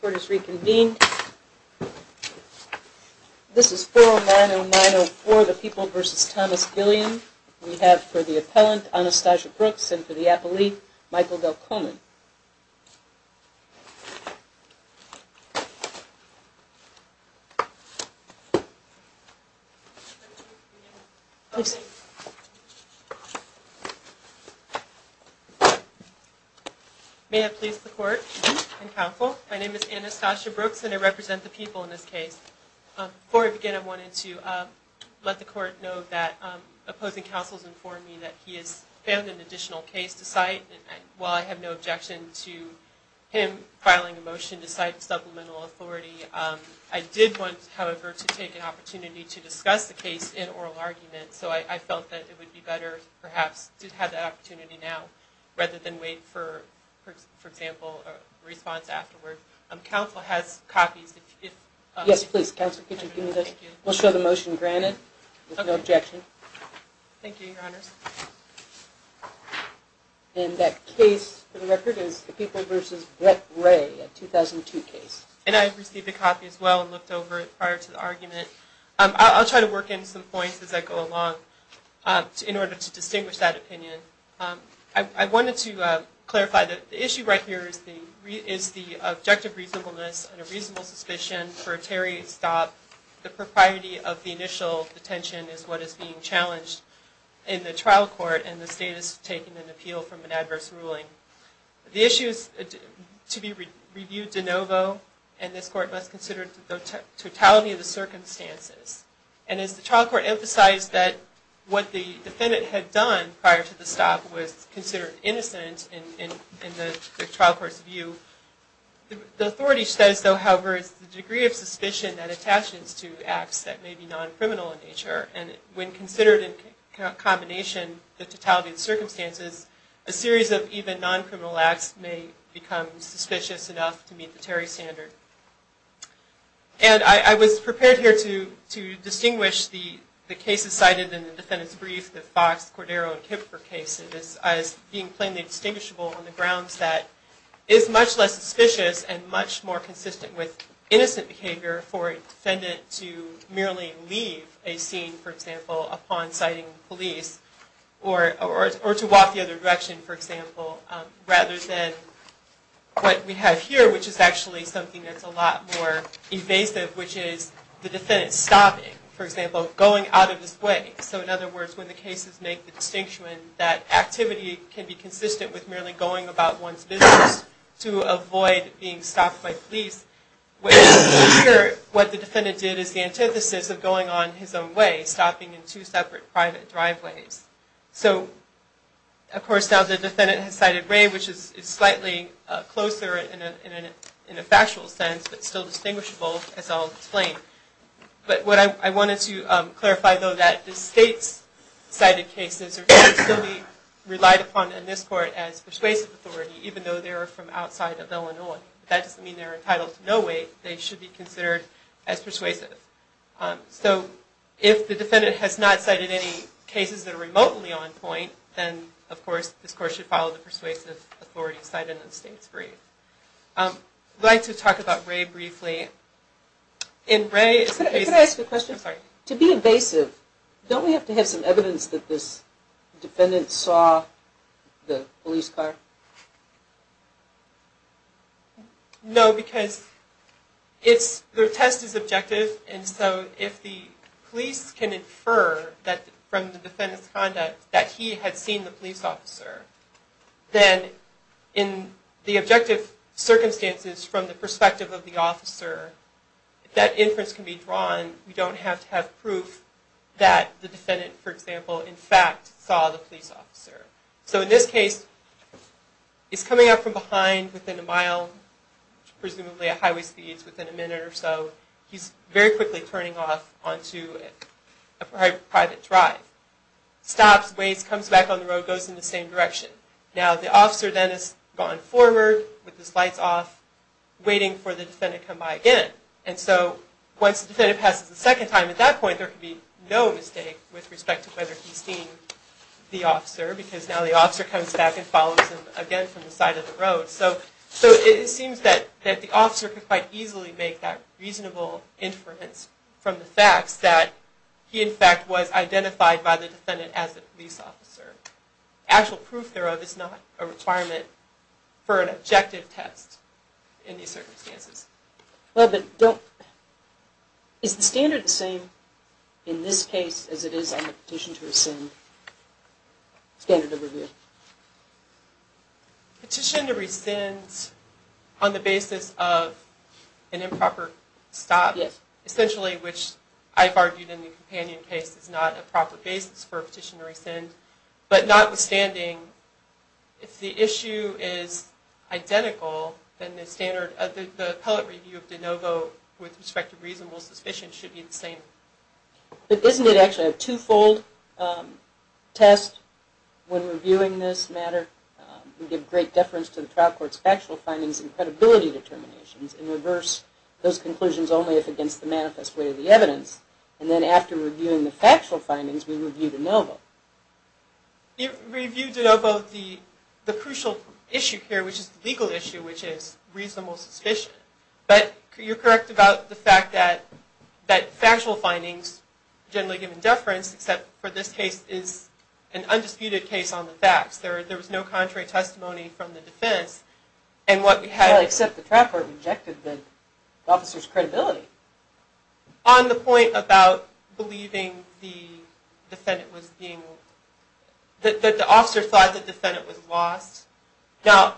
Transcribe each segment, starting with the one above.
Court is reconvened. This is 4090904, the People v. Thomas Gilliam. We have for the appellant, Anastasia Brooks, and for the appellee, Michael Delcomen. May I please the court and counsel? My name is Anastasia Brooks and I represent the People in this case. Before I begin, I wanted to let the court know that opposing counsel has informed me that he has found an additional case to cite. While I have no objection to him filing a motion to cite supplemental authority, I did want, however, to take an opportunity to discuss the case in oral argument. So I felt that it would be better, perhaps, to have that opportunity now rather than wait for, for example, a response afterward. Counsel has copies. Yes, please. Counsel, could you give me those? We'll show the motion granted with no objection. Thank you, your honors. And that case, for the record, is the People v. Brett Ray, a 2002 case. And I received a copy as well and looked over it prior to the argument. I'll try to work in some points as I go along in order to distinguish that opinion. I wanted to clarify that the issue right here is the objective reasonableness and a reasonable suspicion for a tariff stop. The propriety of the initial detention is what is being challenged in the trial court and the status of taking an appeal from an adverse ruling. The issue is to be reviewed de novo and this court must consider the totality of the circumstances. And as the trial court emphasized that what the defendant had done prior to the stop was considered innocent in the trial court's view, the authority says, however, it's the degree of suspicion that attaches to acts that may be non-criminal in nature. And when considered in combination, the totality of the circumstances, a series of even non-criminal acts may become suspicious enough to meet the tariff standard. And I was prepared here to distinguish the cases cited in the defendant's brief, the Fox, Cordero, and Kipfer cases, as being plainly distinguishable on the grounds that it is much less suspicious and much more consistent with innocent behavior for a defendant to merely leave a scene, for example, upon citing police or to walk the other direction, for example, rather than what we have here, which is actually something that's a lot more evasive, which is the defendant stopping. For example, going out of his way. So in other words, when the cases make the distinction that activity can be consistent with merely going about one's business to avoid being stopped by police, here what the defendant did is the antithesis of going on his own way, stopping in two separate private driveways. So, of course, now the defendant has cited Ray, which is slightly closer in a factual sense, but still distinguishable, as I'll explain. But what I wanted to clarify, though, that the state's cited cases are going to still be relied upon in this court as persuasive authority, even though they are from outside of Illinois. That doesn't mean they're entitled to no weight. They should be considered as persuasive. So if the defendant has not cited any cases that are remotely on point, then, of course, this court should follow the persuasive authority cited in the state's brief. I'd like to talk about Ray briefly. Can I ask a question? I'm sorry. To be evasive, don't we have to have some evidence that this defendant saw the police car? No, because the test is objective, and so if the police can infer from the defendant's conduct that he had seen the police officer, then in the objective circumstances from the perspective of the officer, that inference can be drawn. We don't have to have proof that the defendant, for example, in fact saw the police officer. So in this case, he's coming up from behind within a mile, presumably at highway speeds, within a minute or so. He's very quickly turning off onto a private drive. Stops, waits, comes back on the road, goes in the same direction. Now the officer then has gone forward with his lights off, waiting for the defendant to come by again. And so once the defendant passes the second time, at that point, there can be no mistake with respect to whether he's seen the officer because now the officer comes back and follows him again from the side of the road. So it seems that the officer could quite easily make that reasonable inference from the facts that he, in fact, was identified by the defendant as a police officer. Actual proof thereof is not a requirement for an objective test in these circumstances. Is the standard the same in this case as it is on the petition to rescind standard of review? Petition to rescind on the basis of an improper stop, essentially, which I've argued in the companion case, is not a proper basis for a petition to rescind. But notwithstanding, if the issue is identical, then the standard of the appellate review of de novo with respect to reasonable suspicion should be the same. But isn't it actually a two-fold test when reviewing this matter? We give great deference to the trial court's factual findings and credibility determinations and reverse those conclusions only if against the manifest way of the evidence. And then after reviewing the factual findings, we review de novo. You reviewed de novo the crucial issue here, which is the legal issue, which is reasonable suspicion. But you're correct about the fact that factual findings generally give deference, except for this case is an undisputed case on the facts. There was no contrary testimony from the defense. On the point about believing that the officer thought the defendant was lost, now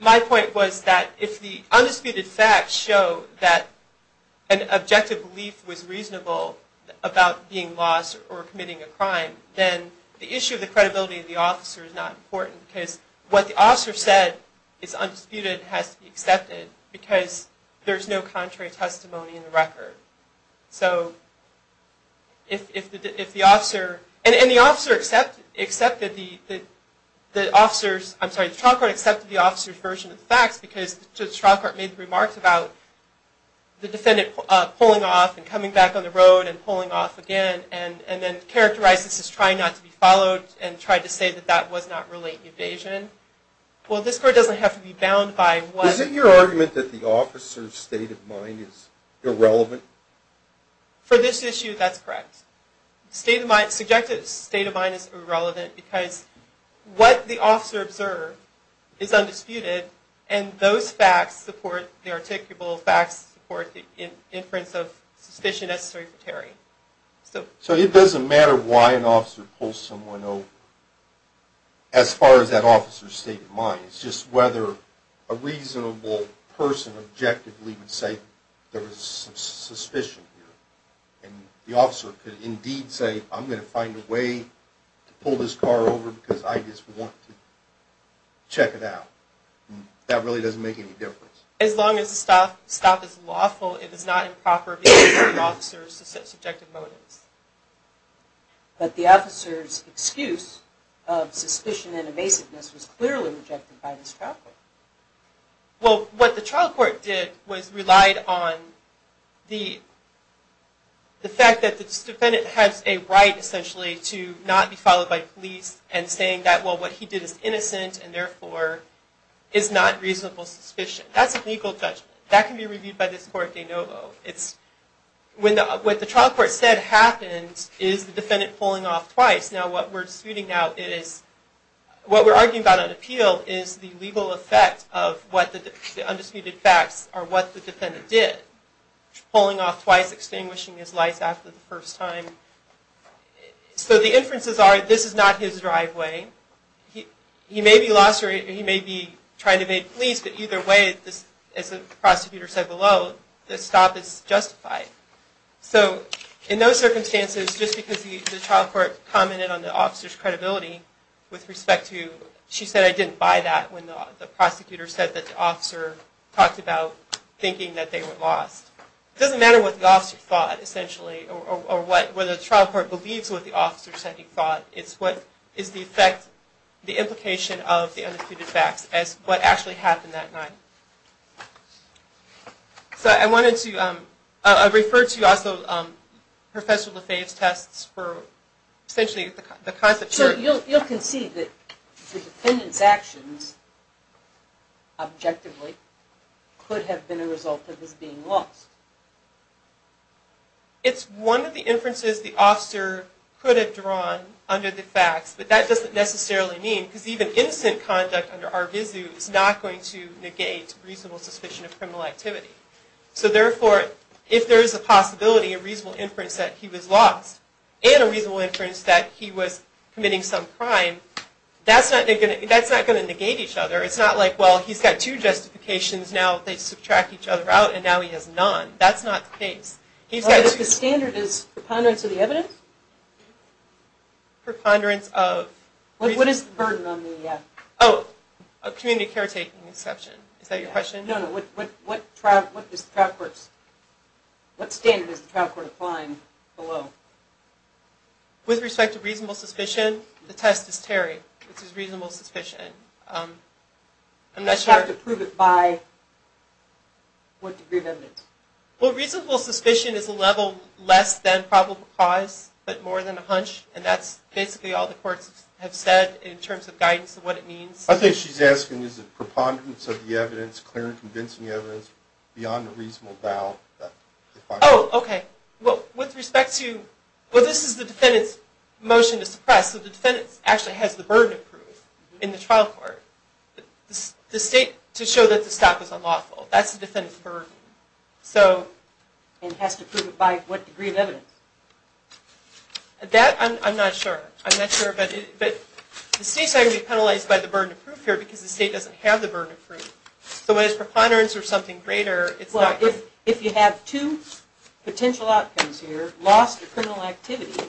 my point was that if the undisputed facts show that an objective belief was reasonable about being lost or committing a crime, then the issue of the credibility of the officer is not important because what the officer said is undisputed and has to be accepted because there's no contrary testimony in the record. So if the officer, and the officer accepted the officer's, I'm sorry, the trial court accepted the officer's version of the facts because the trial court made the remarks about the defendant pulling off and coming back on the road and pulling off again and then characterized this as trying not to be followed Well, this court doesn't have to be bound by one... Is it your argument that the officer's state of mind is irrelevant? For this issue, that's correct. State of mind, subjective state of mind is irrelevant because what the officer observed is undisputed and those facts support the articulable facts, support the inference of suspicion necessary for Terry. So it doesn't matter why an officer pulls someone over as far as that officer's state of mind. It's just whether a reasonable person objectively would say there was some suspicion here and the officer could indeed say, I'm going to find a way to pull this car over because I just want to check it out. That really doesn't make any difference. As long as the stop is lawful, it is not improper for officers to set subjective motives. But the officer's excuse of suspicion and evasiveness was clearly rejected by this trial court. Well, what the trial court did was relied on the fact that this defendant has a right, essentially, to not be followed by police and saying that, well, what he did is innocent and therefore is not reasonable suspicion. That's a legal judgment. That can be reviewed by this court de novo. What the trial court said happened is the defendant pulling off twice. Now, what we're arguing about on appeal is the legal effect of what the undisputed facts or what the defendant did. Pulling off twice, extinguishing his lights after the first time. So the inferences are this is not his driveway. He may be lost or he may be trying to evade police. But either way, as the prosecutor said below, the stop is justified. So in those circumstances, just because the trial court commented on the officer's credibility with respect to, she said, I didn't buy that when the prosecutor said that the officer talked about thinking that they were lost. Or whether the trial court believes what the officer said he thought is what is the effect, the implication of the undisputed facts as what actually happened that night. So I wanted to refer to also Professor Lefebvre's tests for essentially the concept. So you'll concede that the defendant's actions objectively could have been a result of his being lost. It's one of the inferences the officer could have drawn under the facts, but that doesn't necessarily mean, because even innocent conduct under ARVISU is not going to negate reasonable suspicion of criminal activity. So therefore, if there is a possibility of reasonable inference that he was lost, and a reasonable inference that he was committing some crime, that's not going to negate each other. It's not like, well, he's got two justifications, now they subtract each other out, and now he has none. That's not the case. The standard is preponderance of the evidence? Preponderance of... What is the burden on the... Oh, a community caretaking exception. Is that your question? No, no. What is the trial court's... What standard is the trial court applying below? With respect to reasonable suspicion, the test is Terry, which is reasonable suspicion. I'm not sure... You have to prove it by what degree of evidence? Well, reasonable suspicion is a level less than probable cause, but more than a hunch, and that's basically all the courts have said in terms of guidance of what it means. I think she's asking, is it preponderance of the evidence, clear and convincing evidence, beyond a reasonable doubt? Oh, okay. Well, with respect to... Well, this is the defendant's motion to suppress, so the defendant actually has the burden of proof in the trial court. The state, to show that the stop is unlawful, that's the defendant's burden. And has to prove it by what degree of evidence? That, I'm not sure. I'm not sure, but the state's going to be penalized by the burden of proof here, because the state doesn't have the burden of proof. So when it's preponderance or something greater, it's not... Well, if you have two potential outcomes here, lost or criminal activity,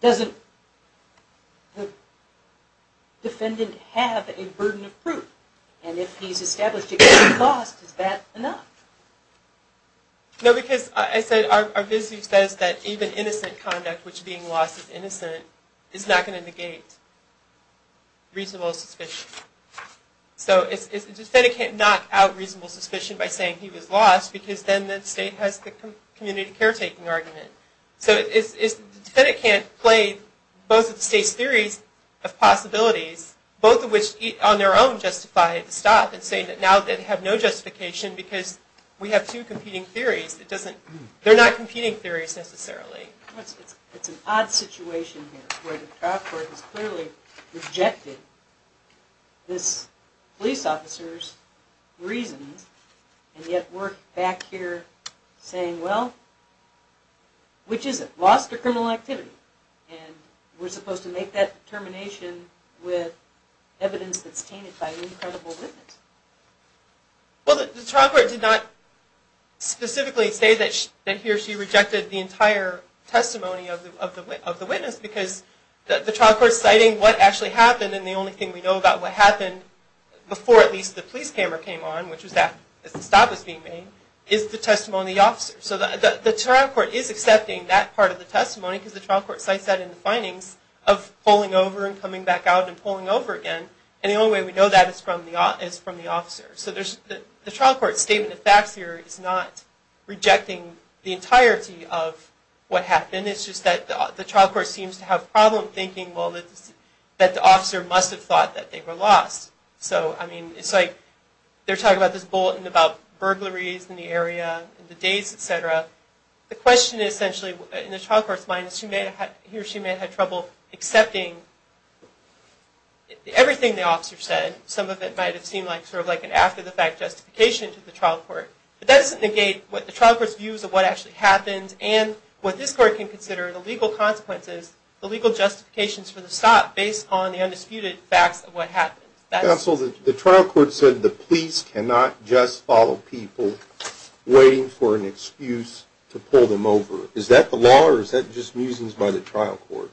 doesn't the defendant have a burden of proof? And if he's established it can't be lost, is that enough? No, because I said, our visual says that even innocent conduct, which being lost is innocent, is not going to negate reasonable suspicion. So the defendant can't knock out reasonable suspicion by saying he was lost, because then the state has the community caretaking argument. So the defendant can't play both of the state's theories of possibilities, both of which on their own justify the stop, and say that now they have no justification, because we have two competing theories. They're not competing theories, necessarily. It's an odd situation here, where the trial court has clearly rejected this police officer's reasons, and yet we're back here saying, well, which is it, lost or criminal activity? And we're supposed to make that determination with evidence that's tainted by an incredible witness. Well, the trial court did not specifically say that he or she rejected the entire testimony of the witness, because the trial court's citing what actually happened, and the only thing we know about what happened before at least the police camera came on, which was that the stop was being made, is the testimony of the officer. So the trial court is accepting that part of the testimony, because the trial court cites that in the findings of pulling over and coming back out and pulling over again. And the only way we know that is from the officer. So the trial court's statement of facts here is not rejecting the entirety of what happened. It's just that the trial court seems to have a problem thinking, well, that the officer must have thought that they were lost. So, I mean, it's like they're talking about this bulletin about burglaries in the area, the days, et cetera. The question is essentially, in the trial court's mind, is he or she may have had trouble accepting everything the officer said. Some of it might have seemed like sort of like an after-the-fact justification to the trial court. But that doesn't negate the trial court's views of what actually happened and what this court can consider the legal consequences, the legal justifications for the stop, based on the undisputed facts of what happened. Counsel, the trial court said the police cannot just follow people waiting for an excuse to pull them over. Is that the law or is that just musings by the trial court?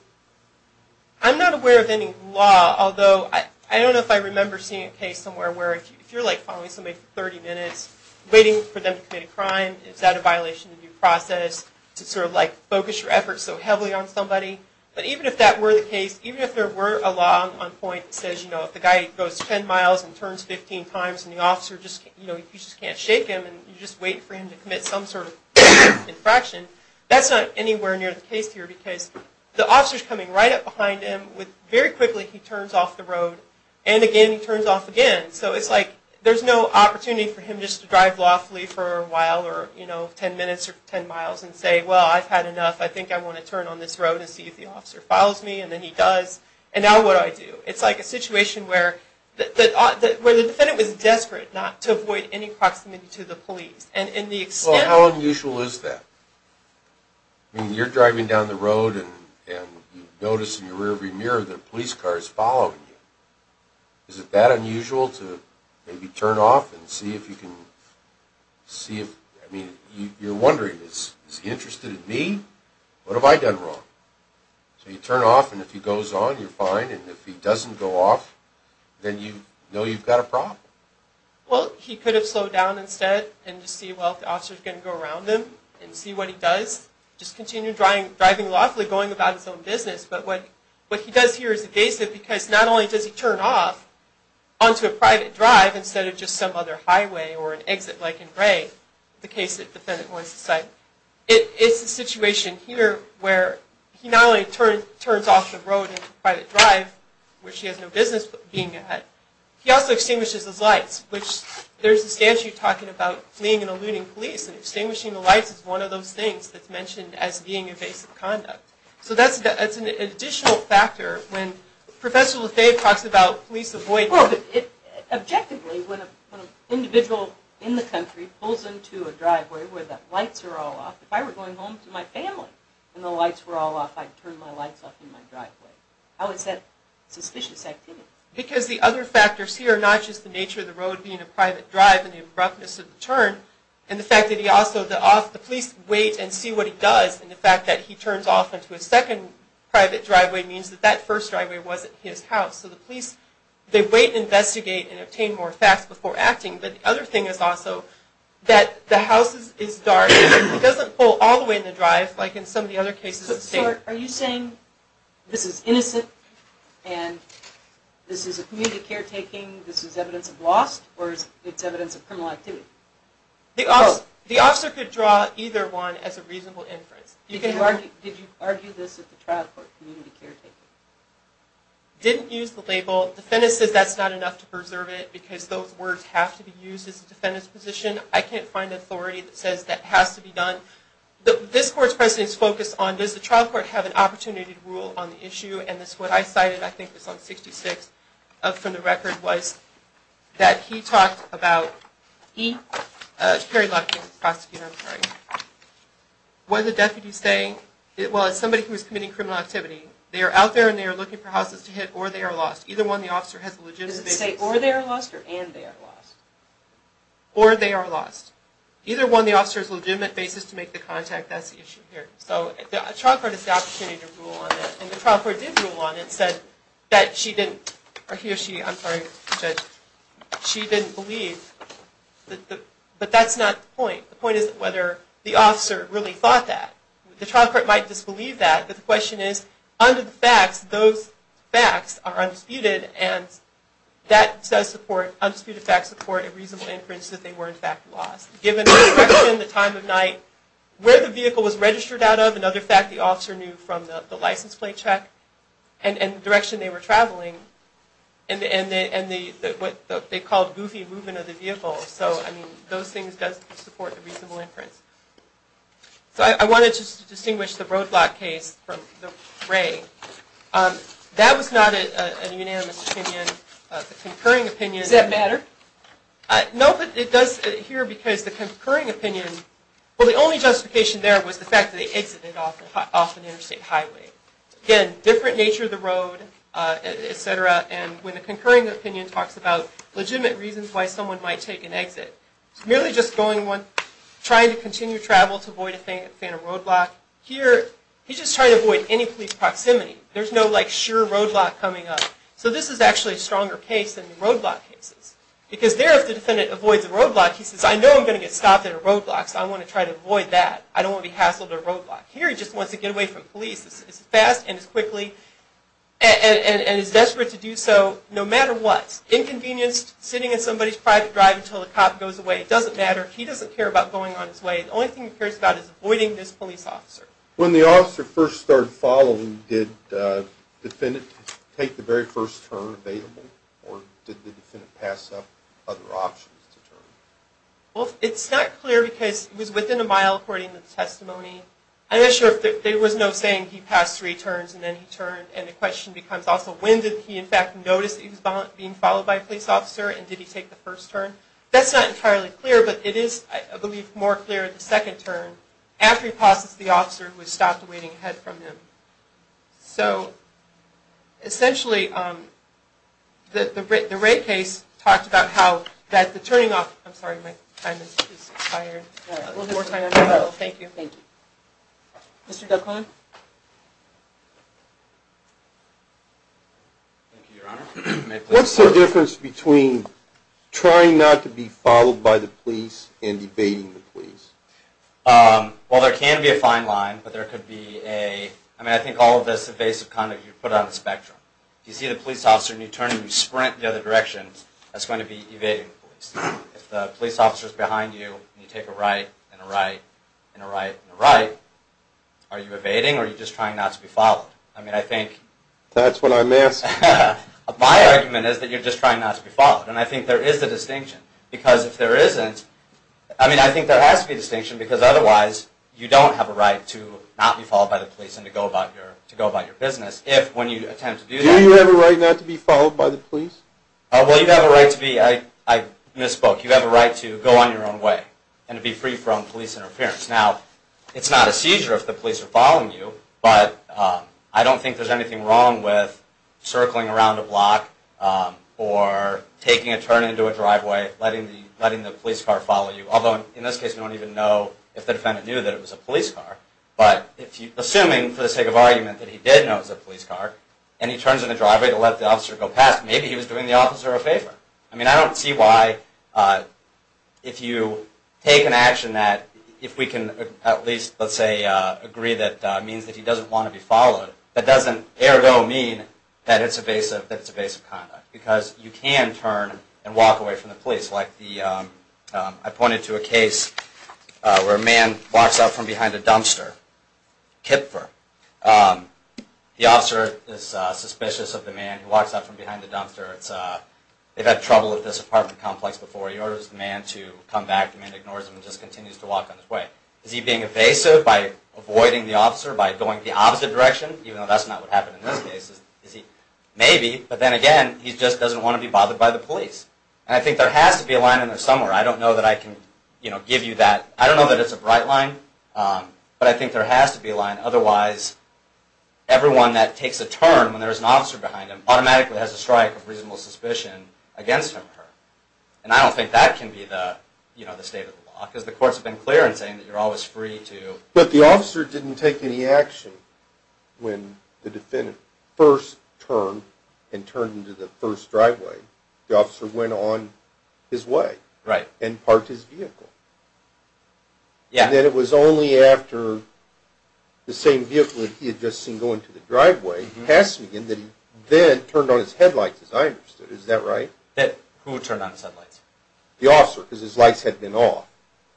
I'm not aware of any law, although I don't know if I remember seeing a case somewhere where if you're like following somebody for 30 minutes, waiting for them to commit a crime, is that a violation of due process to sort of like focus your efforts so heavily on somebody? But even if that were the case, even if there were a law on point that says, you know, the guy goes 10 miles and turns 15 times and the officer just, you know, you just can't shake him and you just wait for him to commit some sort of infraction, that's not anywhere near the case here because the officer's coming right up behind him with very quickly he turns off the road and again he turns off again. So it's like there's no opportunity for him just to drive lawfully for a while or, you know, 10 minutes or 10 miles and say, well, I've had enough. I think I want to turn on this road and see if the officer follows me, and then he does. And now what do I do? It's like a situation where the defendant was desperate not to avoid any proximity to the police. Well, how unusual is that? I mean, you're driving down the road and you notice in your rear view mirror that a police car is following you. Is it that unusual to maybe turn off and see if you can see if, I mean, you're wondering, is he interested in me? What have I done wrong? So you turn off and if he goes on, you're fine. And if he doesn't go off, then you know you've got a problem. Well, he could have slowed down instead and just see, well, if the officer's going to go around him and see what he does, just continue driving lawfully, going about his own business. But what he does here is evasive because not only does he turn off onto a private drive instead of just some other highway or an exit like in Gray, the case that the defendant wants to cite, it's a situation here where he not only turns off the road into a private drive, which he has no business being at, he also extinguishes his lights, which there's a statute talking about fleeing and eluding police, and extinguishing the lights is one of those things that's mentioned as being evasive conduct. So that's an additional factor when Professor LaFave talks about police avoidance. Objectively, when an individual in the country pulls into a driveway where the lights are all off, if I were going home to my family and the lights were all off, I'd turn my lights off in my driveway. How is that suspicious activity? Because the other factors here are not just the nature of the road being a private drive and the abruptness of the turn and the fact that the police wait and see what he does and the fact that he turns off into a second private driveway means that that first driveway wasn't his house. So the police, they wait and investigate and obtain more facts before acting. But the other thing is also that the house is dark. It doesn't pull all the way in the drive like in some of the other cases. So are you saying this is innocent and this is a community caretaking, this is evidence of loss, or it's evidence of criminal activity? The officer could draw either one as a reasonable inference. Did you argue this at the trial court, community caretaking? Didn't use the label. Defendant says that's not enough to preserve it because those words have to be used as a defendant's position. I can't find authority that says that has to be done. This court's precedent is focused on does the trial court have an opportunity to rule on the issue, and that's what I cited, I think it was on 66, from the record, was that he talked about he, Terry Lockwood, the prosecutor, I'm sorry, what are the deputies saying? Well, it's somebody who is committing criminal activity. They are out there and they are looking for houses to hit or they are lost. Either one of the officers has a legitimate basis. Does it say or they are lost or and they are lost? Or they are lost. Either one of the officers has a legitimate basis to make the contact, that's the issue here. So the trial court has the opportunity to rule on it, and the trial court did rule on it, said that she didn't, or he or she, I'm sorry, the judge, she didn't believe, but that's not the point. The point is whether the officer really thought that. The trial court might disbelieve that, but the question is, under the facts, those facts are undisputed and that does support, undisputed facts support a reasonable inference that they were in fact lost. Given the direction, the time of night, where the vehicle was registered out of, another fact the officer knew from the license plate check, and the direction they were traveling, and what they called goofy movement of the vehicle. So, I mean, those things does support a reasonable inference. So I wanted to distinguish the roadblock case from the Wray. That was not a unanimous opinion. The concurring opinion... Does that matter? No, but it does here because the concurring opinion, well the only justification there was the fact that they exited off an interstate highway. Again, different nature of the road, et cetera, and when the concurring opinion talks about legitimate reasons why someone might take an exit, merely just going one, trying to continue travel to avoid a phantom roadblock. Here, he's just trying to avoid any police proximity. There's no like sure roadblock coming up. So this is actually a stronger case than the roadblock cases because there if the defendant avoids a roadblock, he says, I know I'm going to get stopped at a roadblock, so I want to try to avoid that. I don't want to be hassled at a roadblock. Here he just wants to get away from police as fast and as quickly, and is desperate to do so no matter what. Inconvenience, sitting in somebody's private drive until the cop goes away, it doesn't matter. He doesn't care about going on his way. The only thing he cares about is avoiding this police officer. When the officer first started following, did the defendant take the very first turn available or did the defendant pass up other options to turn? Well, it's not clear because it was within a mile according to the testimony. I'm not sure if there was no saying he passed three turns and then he turned, and the question becomes also when did he in fact notice that he was being followed by a police officer and did he take the first turn? That's not entirely clear, but it is, I believe, more clear the second turn after he passes the officer who has stopped waiting ahead from him. So essentially the Wray case talked about how the turning off I'm sorry, my time is expired. We'll have more time on that. Thank you. Thank you. Mr. Duclon? Thank you, Your Honor. What's the difference between trying not to be followed by the police and evading the police? Well, there can be a fine line, but there could be a I mean, I think all of this evasive conduct you put on the spectrum. You see the police officer and you turn and you sprint the other direction, that's going to be evading the police. If the police officer is behind you and you take a right and a right and a right and a right, are you evading or are you just trying not to be followed? I mean, I think That's what I'm asking. My argument is that you're just trying not to be followed, and I think there is a distinction. Because if there isn't, I mean, I think there has to be a distinction because otherwise you don't have a right to not be followed by the police and to go about your business if when you attempt to do that Do you have a right not to be followed by the police? Well, you have a right to be, I misspoke, you have a right to go on your own way and to be free from police interference. Now, it's not a seizure if the police are following you, but I don't think there's anything wrong with circling around a block or taking a turn into a driveway, letting the police car follow you. Although, in this case, we don't even know if the defendant knew that it was a police car. But assuming, for the sake of argument, that he did know it was a police car and he turns in the driveway to let the officer go past, maybe he was doing the officer a favor. I mean, I don't see why, if you take an action that, if we can at least, let's say, agree that means that he doesn't want to be followed, that doesn't ergo mean that it's evasive conduct. Because you can turn and walk away from the police. Like I pointed to a case where a man walks up from behind a dumpster, Kipfer. The officer is suspicious of the man who walks up from behind the dumpster. They've had trouble at this apartment complex before. He orders the man to come back. The man ignores him and just continues to walk on his way. Is he being evasive by avoiding the officer, by going the opposite direction? Even though that's not what happened in this case. Maybe, but then again, he just doesn't want to be bothered by the police. And I think there has to be a line in there somewhere. I don't know that I can give you that. I don't know that it's a bright line, but I think there has to be a line. Otherwise, everyone that takes a turn when there's an officer behind them automatically has a strike of reasonable suspicion against him or her. And I don't think that can be the state of the law, because the courts have been clear in saying that you're always free to... But the officer didn't take any action when the defendant first turned and turned into the first driveway. The officer went on his way and parked his vehicle. And then it was only after the same vehicle that he had just seen going to the driveway that he then turned on his headlights, as I understood. Is that right? Who turned on his headlights? The officer, because his lights had been off.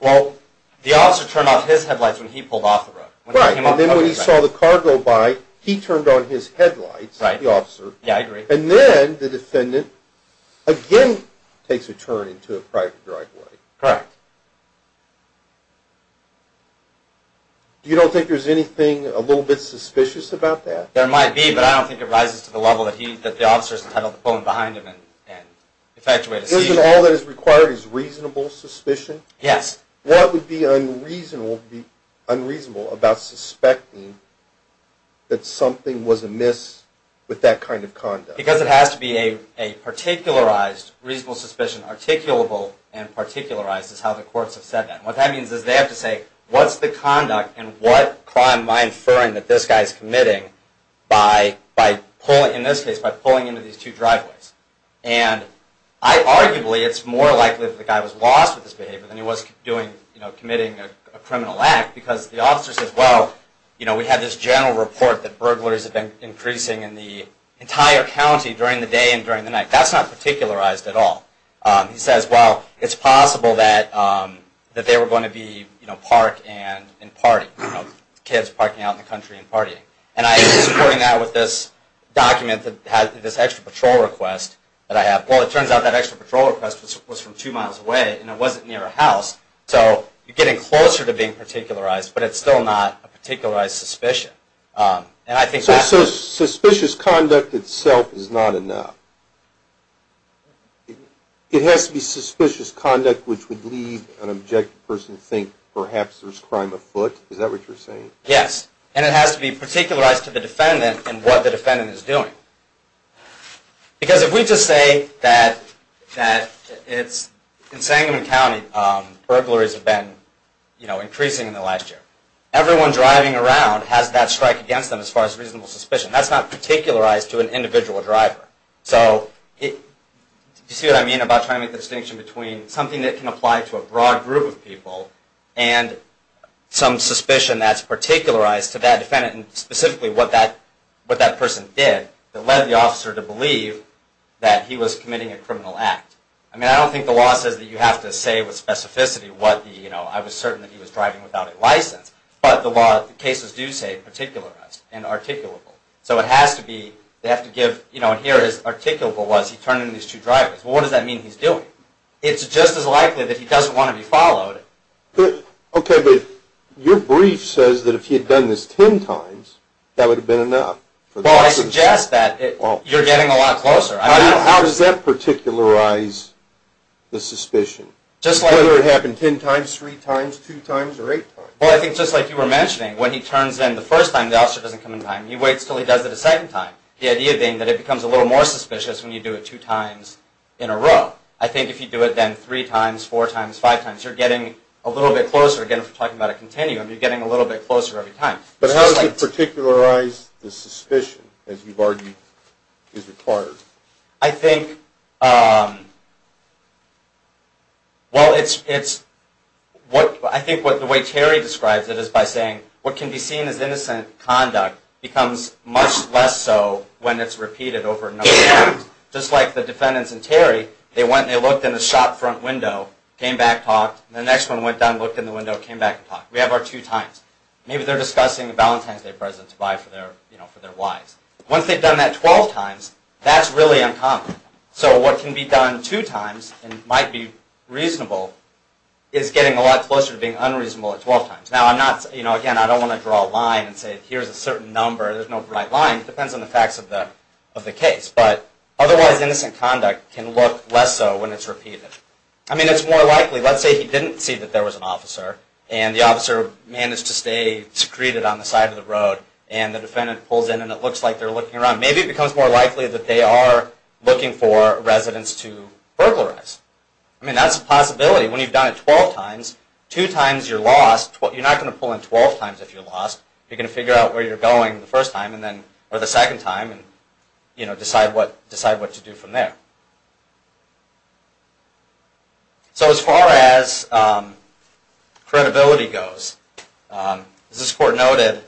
Well, the officer turned off his headlights when he pulled off the road. Right. And then when he saw the car go by, he turned on his headlights, the officer. Yeah, I agree. And then the defendant again takes a turn into a private driveway. Correct. You don't think there's anything a little bit suspicious about that? There might be, but I don't think it rises to the level that the officer's entitled to pull in behind him and effectuate a seizure. Isn't all that is required is reasonable suspicion? Yes. What would be unreasonable about suspecting that something was amiss with that kind of conduct? Because it has to be a particularized reasonable suspicion. Articulable and particularized is how the courts have said that. What that means is they have to say, what's the conduct and what crime am I inferring that this guy is committing by, in this case, by pulling into these two driveways? And arguably, it's more likely that the guy was lost with this behavior than he was committing a criminal act because the officer says, well, we have this general report that burglaries have been increasing in the entire county during the day and during the night. That's not particularized at all. He says, well, it's possible that they were going to be parked and partying, kids parking out in the country and partying. And I'm supporting that with this document that has this extra patrol request that I have. Well, it turns out that extra patrol request was from two miles away and it wasn't near a house. So you're getting closer to being particularized, but it's still not a particularized suspicion. So suspicious conduct itself is not enough? It has to be suspicious conduct which would leave an objective person to think perhaps there's crime afoot? Is that what you're saying? Yes, and it has to be particularized to the defendant and what the defendant is doing. Because if we just say that in Sangamon County, burglaries have been increasing in the last year, everyone driving around has that strike against them as far as reasonable suspicion. That's not particularized to an individual driver. So do you see what I mean about trying to make the distinction between something that can apply to a broad group of people and some suspicion that's particularized to that defendant and specifically what that person did that led the officer to believe that he was committing a criminal act? I mean, I don't think the law says that you have to say with specificity what the, you know, but the cases do say particularized and articulable. So it has to be, they have to give, you know, here is articulable was he turning these two drivers. Well, what does that mean he's doing? It's just as likely that he doesn't want to be followed. Okay, but your brief says that if he had done this ten times, that would have been enough. Well, I suggest that you're getting a lot closer. How does that particularize the suspicion? Whether it happened ten times, three times, two times, or eight times? Well, I think just like you were mentioning, when he turns in the first time, the officer doesn't come in time. He waits until he does it a second time. The idea being that it becomes a little more suspicious when you do it two times in a row. I think if you do it then three times, four times, five times, you're getting a little bit closer. Again, if we're talking about a continuum, you're getting a little bit closer every time. But how does it particularize the suspicion as you've argued is required? Well, I think the way Terry describes it is by saying, what can be seen as innocent conduct becomes much less so when it's repeated over and over again. Just like the defendants in Terry, they went and they looked in the shop front window, came back and talked, and the next one went down, looked in the window, came back and talked. We have our two times. Maybe they're discussing a Valentine's Day present to buy for their wives. Once they've done that 12 times, that's really uncommon. So what can be done two times, and might be reasonable, is getting a lot closer to being unreasonable at 12 times. Now, again, I don't want to draw a line and say, here's a certain number. There's no right line. It depends on the facts of the case. But otherwise, innocent conduct can look less so when it's repeated. I mean, it's more likely, let's say he didn't see that there was an officer, and the officer managed to stay secreted on the side of the road, and the defendant pulls in and it looks like they're looking around. Maybe it becomes more likely that they are looking for residents to burglarize. I mean, that's a possibility. When you've done it 12 times, two times you're lost. You're not going to pull in 12 times if you're lost. You're going to figure out where you're going the first time, or the second time, and decide what to do from there. So as far as credibility goes, as this court noted,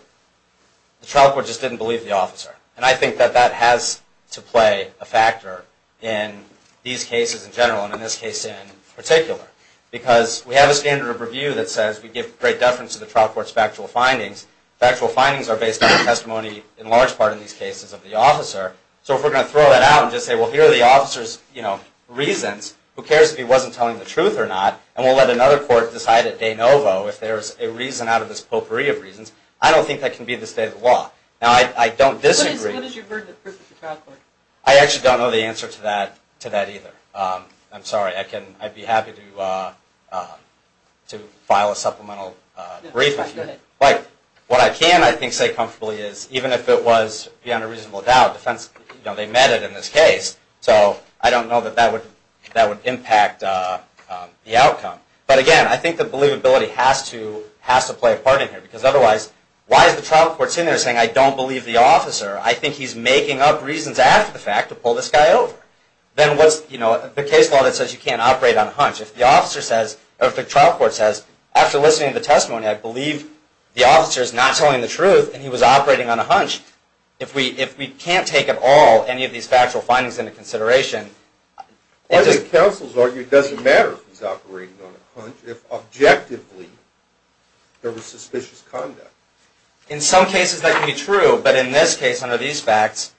the trial court just didn't believe the officer. And I think that that has to play a factor in these cases in general, and in this case in particular. Because we have a standard of review that says we give great deference to the trial court's factual findings. Factual findings are based on the testimony, in large part in these cases, of the officer. So if we're going to throw that out and just say, well, here are the officer's reasons. Who cares if he wasn't telling the truth or not? And we'll let another court decide at de novo if there's a reason out of this potpourri of reasons. I don't think that can be the state of the law. Now, I don't disagree. What is your verdict of proof at the trial court? I actually don't know the answer to that either. I'm sorry. I'd be happy to file a supplemental brief. What I can, I think, say comfortably is even if it was beyond a reasonable doubt, they met it in this case. So I don't know that that would impact the outcome. But again, I think the believability has to play a part in here. Because otherwise, why is the trial court sitting there saying, I don't believe the officer? I think he's making up reasons after the fact to pull this guy over. Then what's the case law that says you can't operate on a hunch? If the trial court says, after listening to the testimony, I believe the officer's not telling the truth and he was operating on a hunch, if we can't take at all any of these factual findings into consideration. One of the counsels argued it doesn't matter if he's operating on a hunch if objectively there was suspicious conduct. In some cases, that can be true. But in this case, under these facts,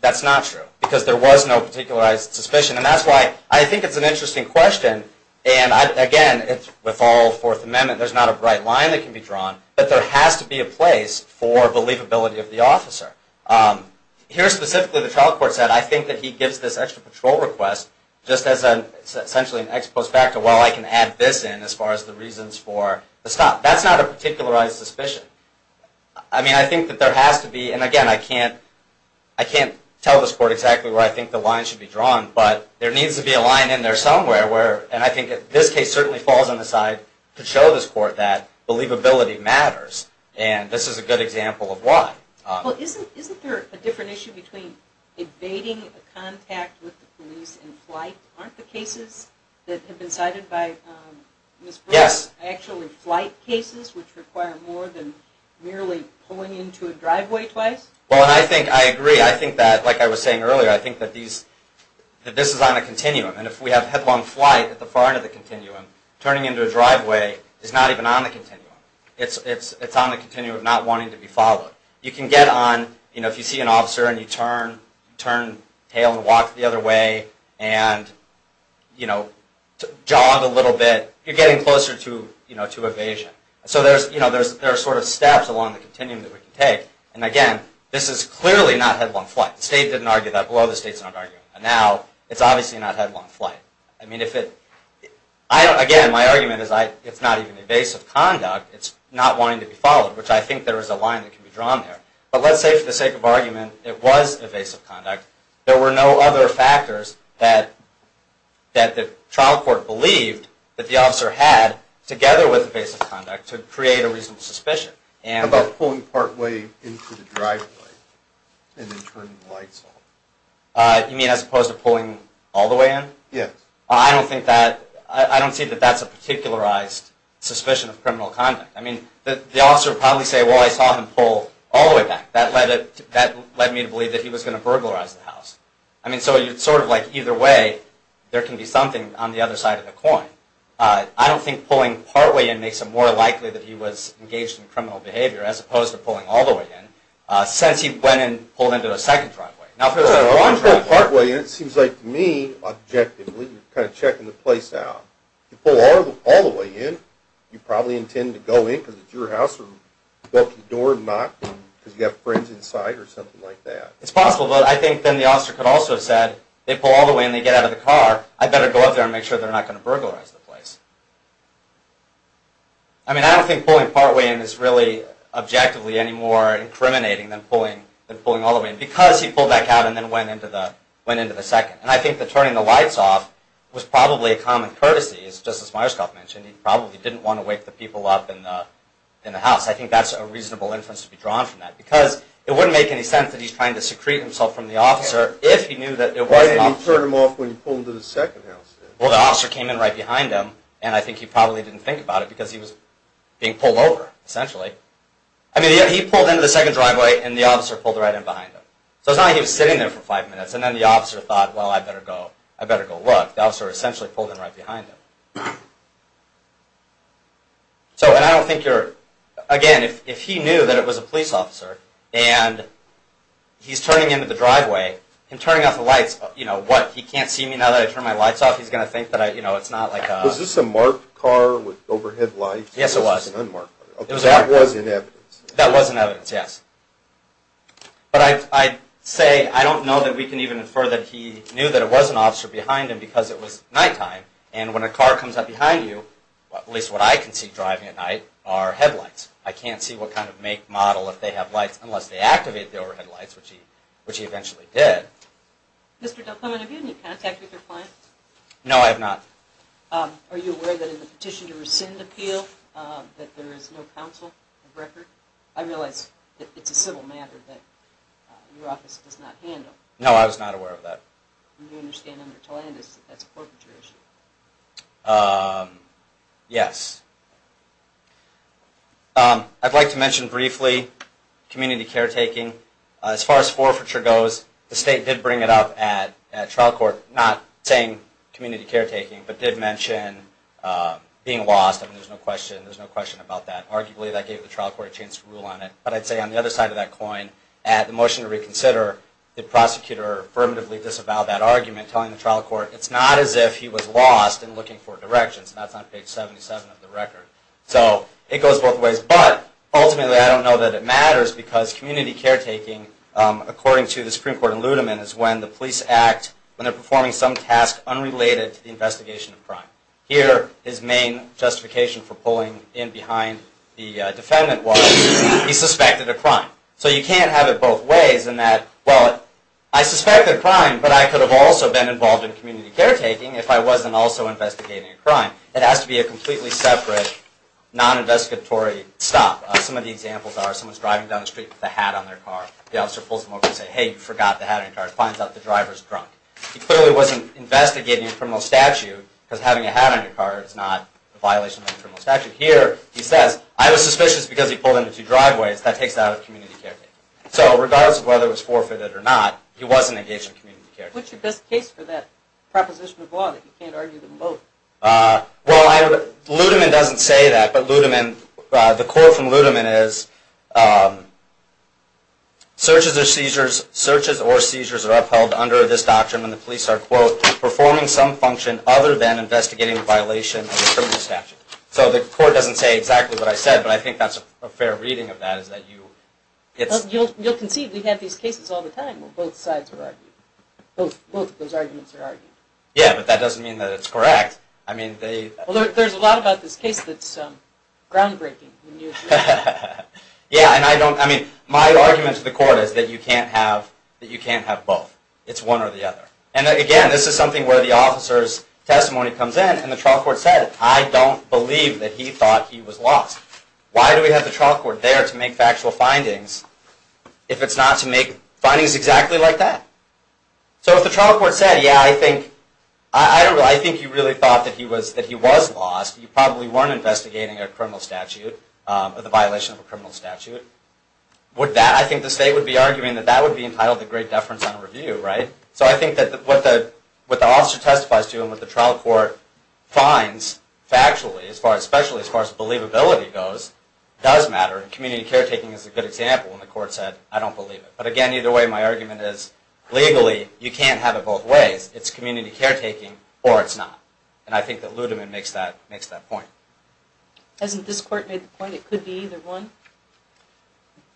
that's not true because there was no particularized suspicion. And that's why I think it's an interesting question. And again, with all Fourth Amendment, there's not a bright line that can be drawn. But there has to be a place for believability of the officer. Here, specifically, the trial court said, I think that he gives this extra patrol request, just as essentially an ex post facto, well, I can add this in as far as the reasons for the stop. That's not a particularized suspicion. I mean, I think that there has to be, and again, I can't tell this court exactly where I think the line should be drawn, but there needs to be a line in there somewhere. And I think this case certainly falls on the side to show this court that believability matters. And this is a good example of why. Well, isn't there a different issue between evading contact with the police and flight? Aren't the cases that have been cited by Ms. Brewer actually flight cases, which require more than merely pulling into a driveway twice? Well, I think I agree. I think that, like I was saying earlier, I think that this is on a continuum. And if we have headlong flight at the far end of the continuum, turning into a driveway is not even on the continuum. It's on the continuum, not wanting to be followed. You can get on, you know, if you see an officer, and you turn tail and walk the other way and jog a little bit, you're getting closer to evasion. So there are sort of steps along the continuum that we can take. And again, this is clearly not headlong flight. The state didn't argue that. Below the state's not arguing that. Now, it's obviously not headlong flight. Again, my argument is it's not even evasive conduct. It's not wanting to be followed, which I think there is a line that can be drawn there. But let's say, for the sake of argument, it was evasive conduct. There were no other factors that the trial court believed that the officer had, together with evasive conduct, to create a reasonable suspicion. How about pulling partway into the driveway and then turning the lights off? You mean as opposed to pulling all the way in? Yes. I don't think that – I don't see that that's a particularized suspicion of criminal conduct. I mean, the officer would probably say, well, I saw him pull all the way back. That led me to believe that he was going to burglarize the house. I mean, so it's sort of like either way there can be something on the other side of the coin. I don't think pulling partway in makes it more likely that he was engaged in criminal behavior, as opposed to pulling all the way in, since he went and pulled into the second driveway. Well, if you pull partway in, it seems like to me, objectively, you're kind of checking the place out. If you pull all the way in, you probably intend to go in because it's your house, or go up to the door and knock because you have friends inside or something like that. It's possible, but I think then the officer could also have said, they pull all the way in, they get out of the car, I better go up there and make sure they're not going to burglarize the place. I mean, I don't think pulling partway in is really objectively any more incriminating than pulling all the way in. Because he pulled back out and then went into the second. And I think that turning the lights off was probably a common courtesy, just as Myerscough mentioned. He probably didn't want to wake the people up in the house. I think that's a reasonable inference to be drawn from that. Because it wouldn't make any sense that he's trying to secrete himself from the officer if he knew that it was possible. Why didn't he turn them off when he pulled into the second house? Well, the officer came in right behind him, and I think he probably didn't think about it because he was being pulled over, essentially. I mean, he pulled into the second driveway and the officer pulled right in behind him. So it's not like he was sitting there for five minutes and then the officer thought, well, I better go look. The officer essentially pulled in right behind him. Again, if he knew that it was a police officer and he's turning into the driveway, him turning off the lights, what, he can't see me now that I turned my lights off? He's going to think that it's not like a... Was this a marked car with overhead lights? Yes, it was. That was in evidence? That was in evidence, yes. But I'd say, I don't know that we can even infer that he knew that it was an officer behind him because it was nighttime, and when a car comes up behind you, at least what I can see driving at night, are headlights. I can't see what kind of make, model, if they have lights, unless they activate the overhead lights, which he eventually did. Mr. Del Clement, have you had any contact with your client? No, I have not. Are you aware that in the petition to rescind appeal, that there is no counsel of record? I realize that it's a civil matter that your office does not handle. No, I was not aware of that. Do you understand under Tolandis that that's a forfeiture issue? Yes. I'd like to mention briefly community caretaking. As far as forfeiture goes, the state did bring it up at trial court, not saying community caretaking, but did mention being lost. There's no question about that. Arguably, that gave the trial court a chance to rule on it. But I'd say on the other side of that coin, at the motion to reconsider, the prosecutor affirmatively disavowed that argument, telling the trial court, it's not as if he was lost in looking for directions. That's on page 77 of the record. So it goes both ways. But ultimately, I don't know that it matters because community caretaking, according to the Supreme Court in Ludeman, is when the police act, when they're performing some task unrelated to the investigation of crime. Here, his main justification for pulling in behind the defendant was he suspected a crime. So you can't have it both ways in that, well, I suspected a crime, but I could have also been involved in community caretaking if I wasn't also investigating a crime. It has to be a completely separate, non-investigatory stop. Some of the examples are someone's driving down the street with a hat on their car. The officer pulls him over and says, hey, you forgot the hat on your car. He finds out the driver's drunk. He clearly wasn't investigating a criminal statute because having a hat on your car is not a violation of a criminal statute. Here, he says, I was suspicious because he pulled into two driveways. That takes it out of community caretaking. So regardless of whether it was forfeited or not, he wasn't engaged in community caretaking. What's your best case for that proposition of law that you can't argue them both? Well, Ludeman doesn't say that, but Ludeman, the quote from Ludeman is, searches or seizures are upheld under this doctrine when the police are, quote, performing some function other than investigating a violation of a criminal statute. So the court doesn't say exactly what I said, but I think that's a fair reading of that. You'll concede we have these cases all the time where both sides are arguing. Both of those arguments are argued. Yeah, but that doesn't mean that it's correct. There's a lot about this case that's groundbreaking. My argument to the court is that you can't have both. It's one or the other. And again, this is something where the officer's testimony comes in and the trial court said, I don't believe that he thought he was lost. Why do we have the trial court there to make factual findings if it's not to make findings exactly like that? So if the trial court said, yeah, I think you really thought that he was lost, you probably weren't investigating a criminal statute, the violation of a criminal statute, would that, I think the state would be arguing that that would be entitled to great deference on review, right? So I think that what the officer testifies to and what the trial court finds factually, especially as far as believability goes, does matter. And community caretaking is a good example when the court said, I don't believe it. But again, either way, my argument is, legally, you can't have it both ways. It's community caretaking or it's not. And I think that Ludeman makes that point. Hasn't this court made the point it could be either one?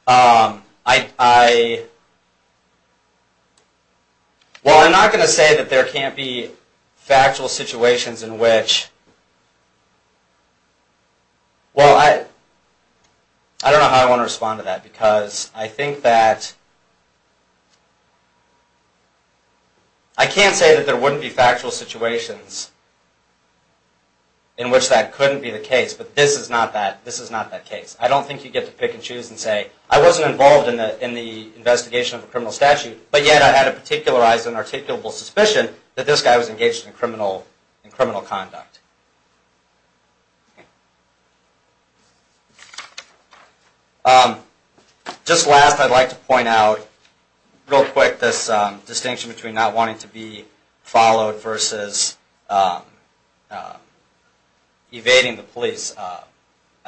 Well, I'm not going to say that there can't be factual situations in which... Well, I don't know how I want to respond to that because I think that... I can't say that there wouldn't be factual situations in which that couldn't be the case, but this is not that case. I don't think you get to pick and choose and say, I wasn't involved in the investigation of a criminal statute, but yet I had a particularized and articulable suspicion that this guy was engaged in criminal conduct. Just last, I'd like to point out, real quick, this distinction between not wanting to be followed versus evading the police. I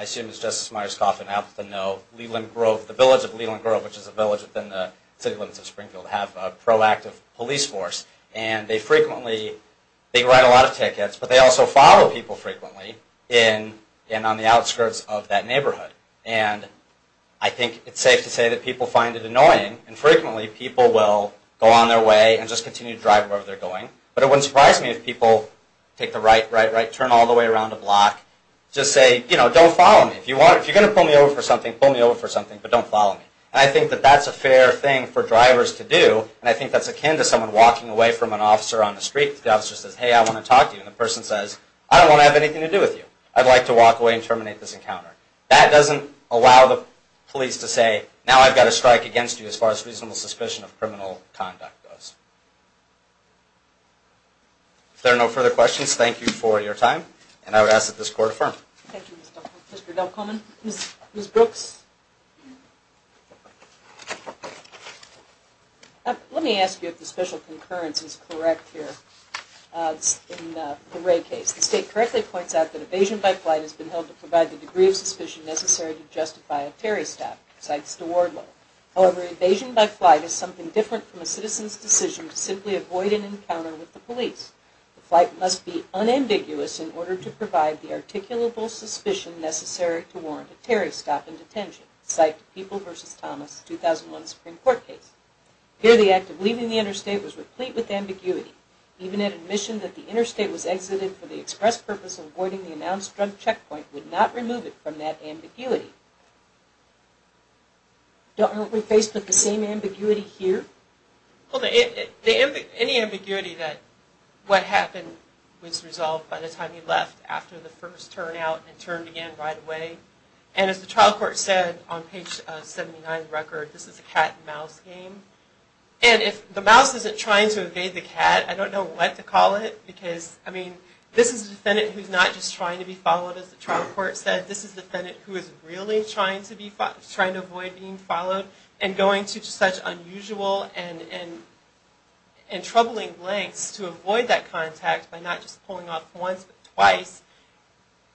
assume it's Justice Myers-Coffin out with a no. Leland Grove, the village of Leland Grove, which is a village within the city limits of Springfield, have a proactive police force. And they frequently, they write a lot of tickets, but they also follow people frequently in and on the outskirts of that neighborhood. And I think it's safe to say that people find it annoying, and frequently people will go on their way and just continue to drive wherever they're going. But it wouldn't surprise me if people take the right, right, right, turn all the way around a block, just say, you know, don't follow me. If you're going to pull me over for something, pull me over for something, but don't follow me. And I think that that's a fair thing for drivers to do, and I think that's akin to someone walking away from an officer on the street. The officer says, hey, I want to talk to you. And the person says, I don't want to have anything to do with you. I'd like to walk away and terminate this encounter. That doesn't allow the police to say, now I've got a strike against you as far as reasonable suspicion of criminal conduct goes. If there are no further questions, thank you for your time. And I would ask that this court affirm. Thank you, Mr. Delcomen. Ms. Brooks? Let me ask you if the special concurrence is correct here in the Ray case. The state correctly points out that evasion by flight has been held to provide the degree of suspicion necessary to justify a Terry stop, cites DeWardlow. However, evasion by flight is something different from a citizen's decision to simply avoid an encounter with the police. The flight must be unambiguous in order to provide the articulable suspicion necessary to warrant a Terry stop in detention, cite People v. Thomas, 2001 Supreme Court case. Here, the act of leaving the interstate was replete with ambiguity. Even an admission that the interstate was exited for the express purpose of avoiding the announced drug checkpoint would not remove it from that ambiguity. Aren't we faced with the same ambiguity here? Well, any ambiguity that what happened was resolved by the time he left after the first turnout, and it turned again right away. And as the trial court said on page 79 of the record, this is a cat and mouse game. And if the mouse isn't trying to evade the cat, I don't know what to call it because, I mean, this is a defendant who's not just trying to be followed, as the trial court said. This is a defendant who is really trying to avoid being followed and going to such unusual and troubling lengths to avoid that contact by not just pulling off once but twice.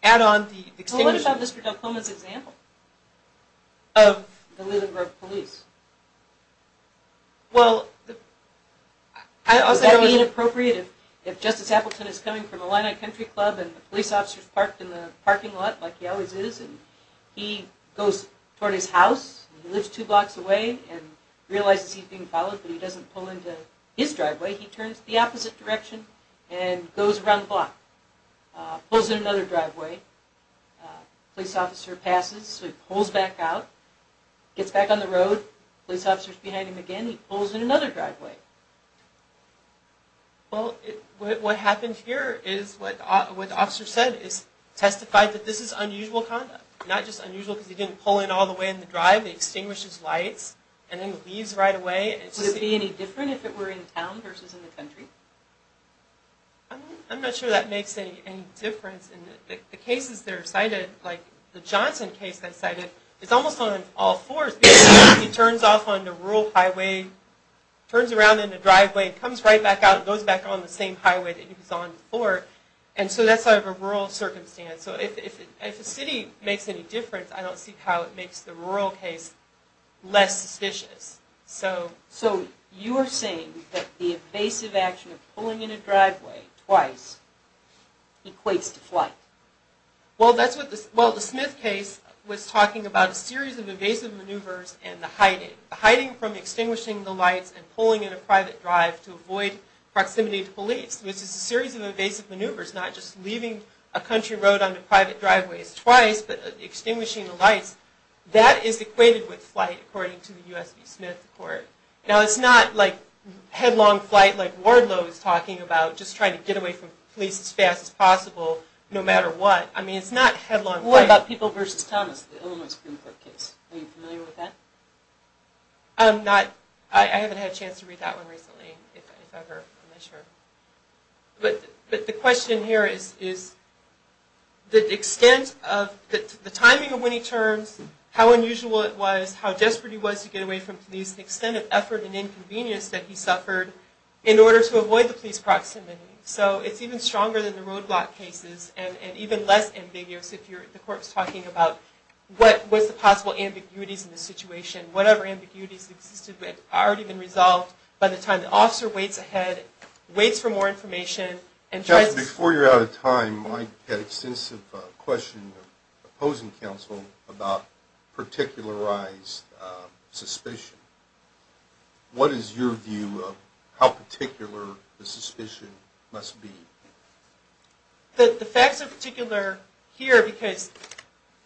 Add on the extinguishing... Well, I also think it would be inappropriate if Justice Appleton is coming from a line-of-country club and the police officer is parked in the parking lot like he always is, and he goes toward his house. He lives two blocks away and realizes he's being followed, but he doesn't pull into his driveway. He turns the opposite direction and goes around the block, pulls in another driveway. The police officer passes, so he pulls back out, gets back on the road. The police officer is behind him again. He pulls in another driveway. Well, what happened here is what the officer said, is testified that this is unusual conduct. Not just unusual because he didn't pull in all the way in the drive, he extinguished his lights, and then leaves right away. Would it be any different if it were in town versus in the country? I'm not sure that makes any difference. The cases that are cited, like the Johnson case that's cited, it's almost on all fours because he turns off on the rural highway, turns around in the driveway, comes right back out, goes back on the same highway that he was on before, and so that's sort of a rural circumstance. So if a city makes any difference, I don't see how it makes the rural case less suspicious. So you're saying that the evasive action of pulling in a driveway twice equates to flight? Well, the Smith case was talking about a series of evasive maneuvers and the hiding. Hiding from extinguishing the lights and pulling in a private drive to avoid proximity to police, which is a series of evasive maneuvers, not just leaving a country road onto private driveways twice, but extinguishing the lights, that is equated with flight according to the U.S. v. Smith report. Now, it's not like headlong flight like Wardlow was talking about, just trying to get away from police as fast as possible no matter what. It's not headlong flight. What about People v. Thomas, the Illinois Supreme Court case? Are you familiar with that? I haven't had a chance to read that one recently, if ever. I'm not sure. But the question here is the timing of when he turns, how unusual it was, how desperate he was to get away from police, the extent of effort and inconvenience that he suffered in order to avoid the police proximity. So it's even stronger than the roadblock cases and even less ambiguous if the court was talking about what was the possible ambiguities in the situation. Whatever ambiguities existed had already been resolved by the time the officer waits ahead, waits for more information. Before you're out of time, I had extensive questions of opposing counsel about particularized suspicion. What is your view of how particular the suspicion must be? The facts are particular here because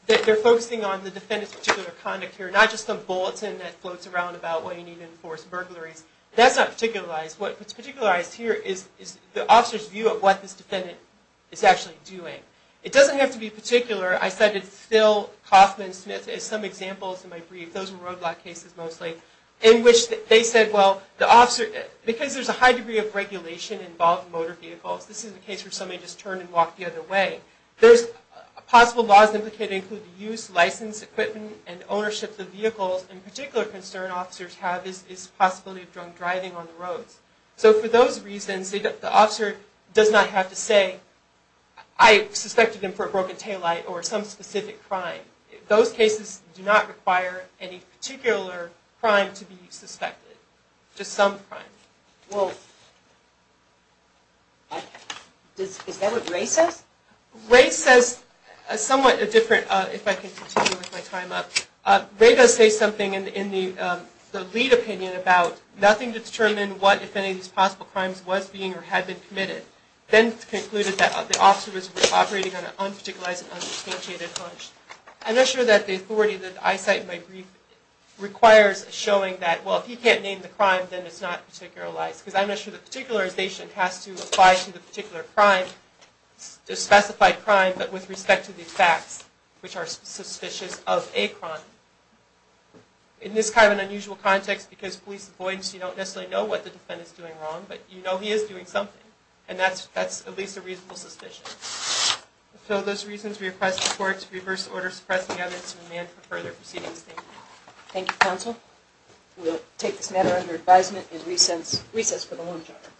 they're focusing on the defendant's particular conduct here, not just some bulletin that floats around about why you need to enforce burglaries. That's not particularized. What's particularized here is the officer's view of what this defendant is actually doing. It doesn't have to be particular. I cited Phil Kaufman Smith as some examples in my brief. Those were roadblock cases mostly, in which they said, well, because there's a high degree of regulation involving motor vehicles, this is a case where somebody just turned and walked the other way. There's possible laws that could include the use, license, equipment, and ownership of vehicles. A particular concern officers have is the possibility of drunk driving on the roads. So for those reasons, the officer does not have to say, I suspected him for a broken taillight or some specific crime. Those cases do not require any particular crime to be suspected, just some crime. Well, is that what Ray says? Ray says somewhat different, if I can continue with my time up. Ray does say something in the lead opinion about nothing to determine what, if any, these possible crimes was being or had been committed. Then concluded that the officer was operating on an unparticularized and unsubstantiated hunch. I'm not sure that the authority that I cite in my brief requires showing that, well, if he can't name the crime, then it's not particularized. Because I'm not sure that particularization has to apply to the particular crime, the specified crime, but with respect to the facts, which are suspicious of a crime. In this kind of an unusual context, because police avoidance, you don't necessarily know what the defendant is doing wrong, but you know he is doing something, and that's at least a reasonable suspicion. So those reasons we request the court to reverse order suppressing evidence and demand for further proceedings. Thank you, counsel. We'll take this matter under advisement and recess for the lunch hour.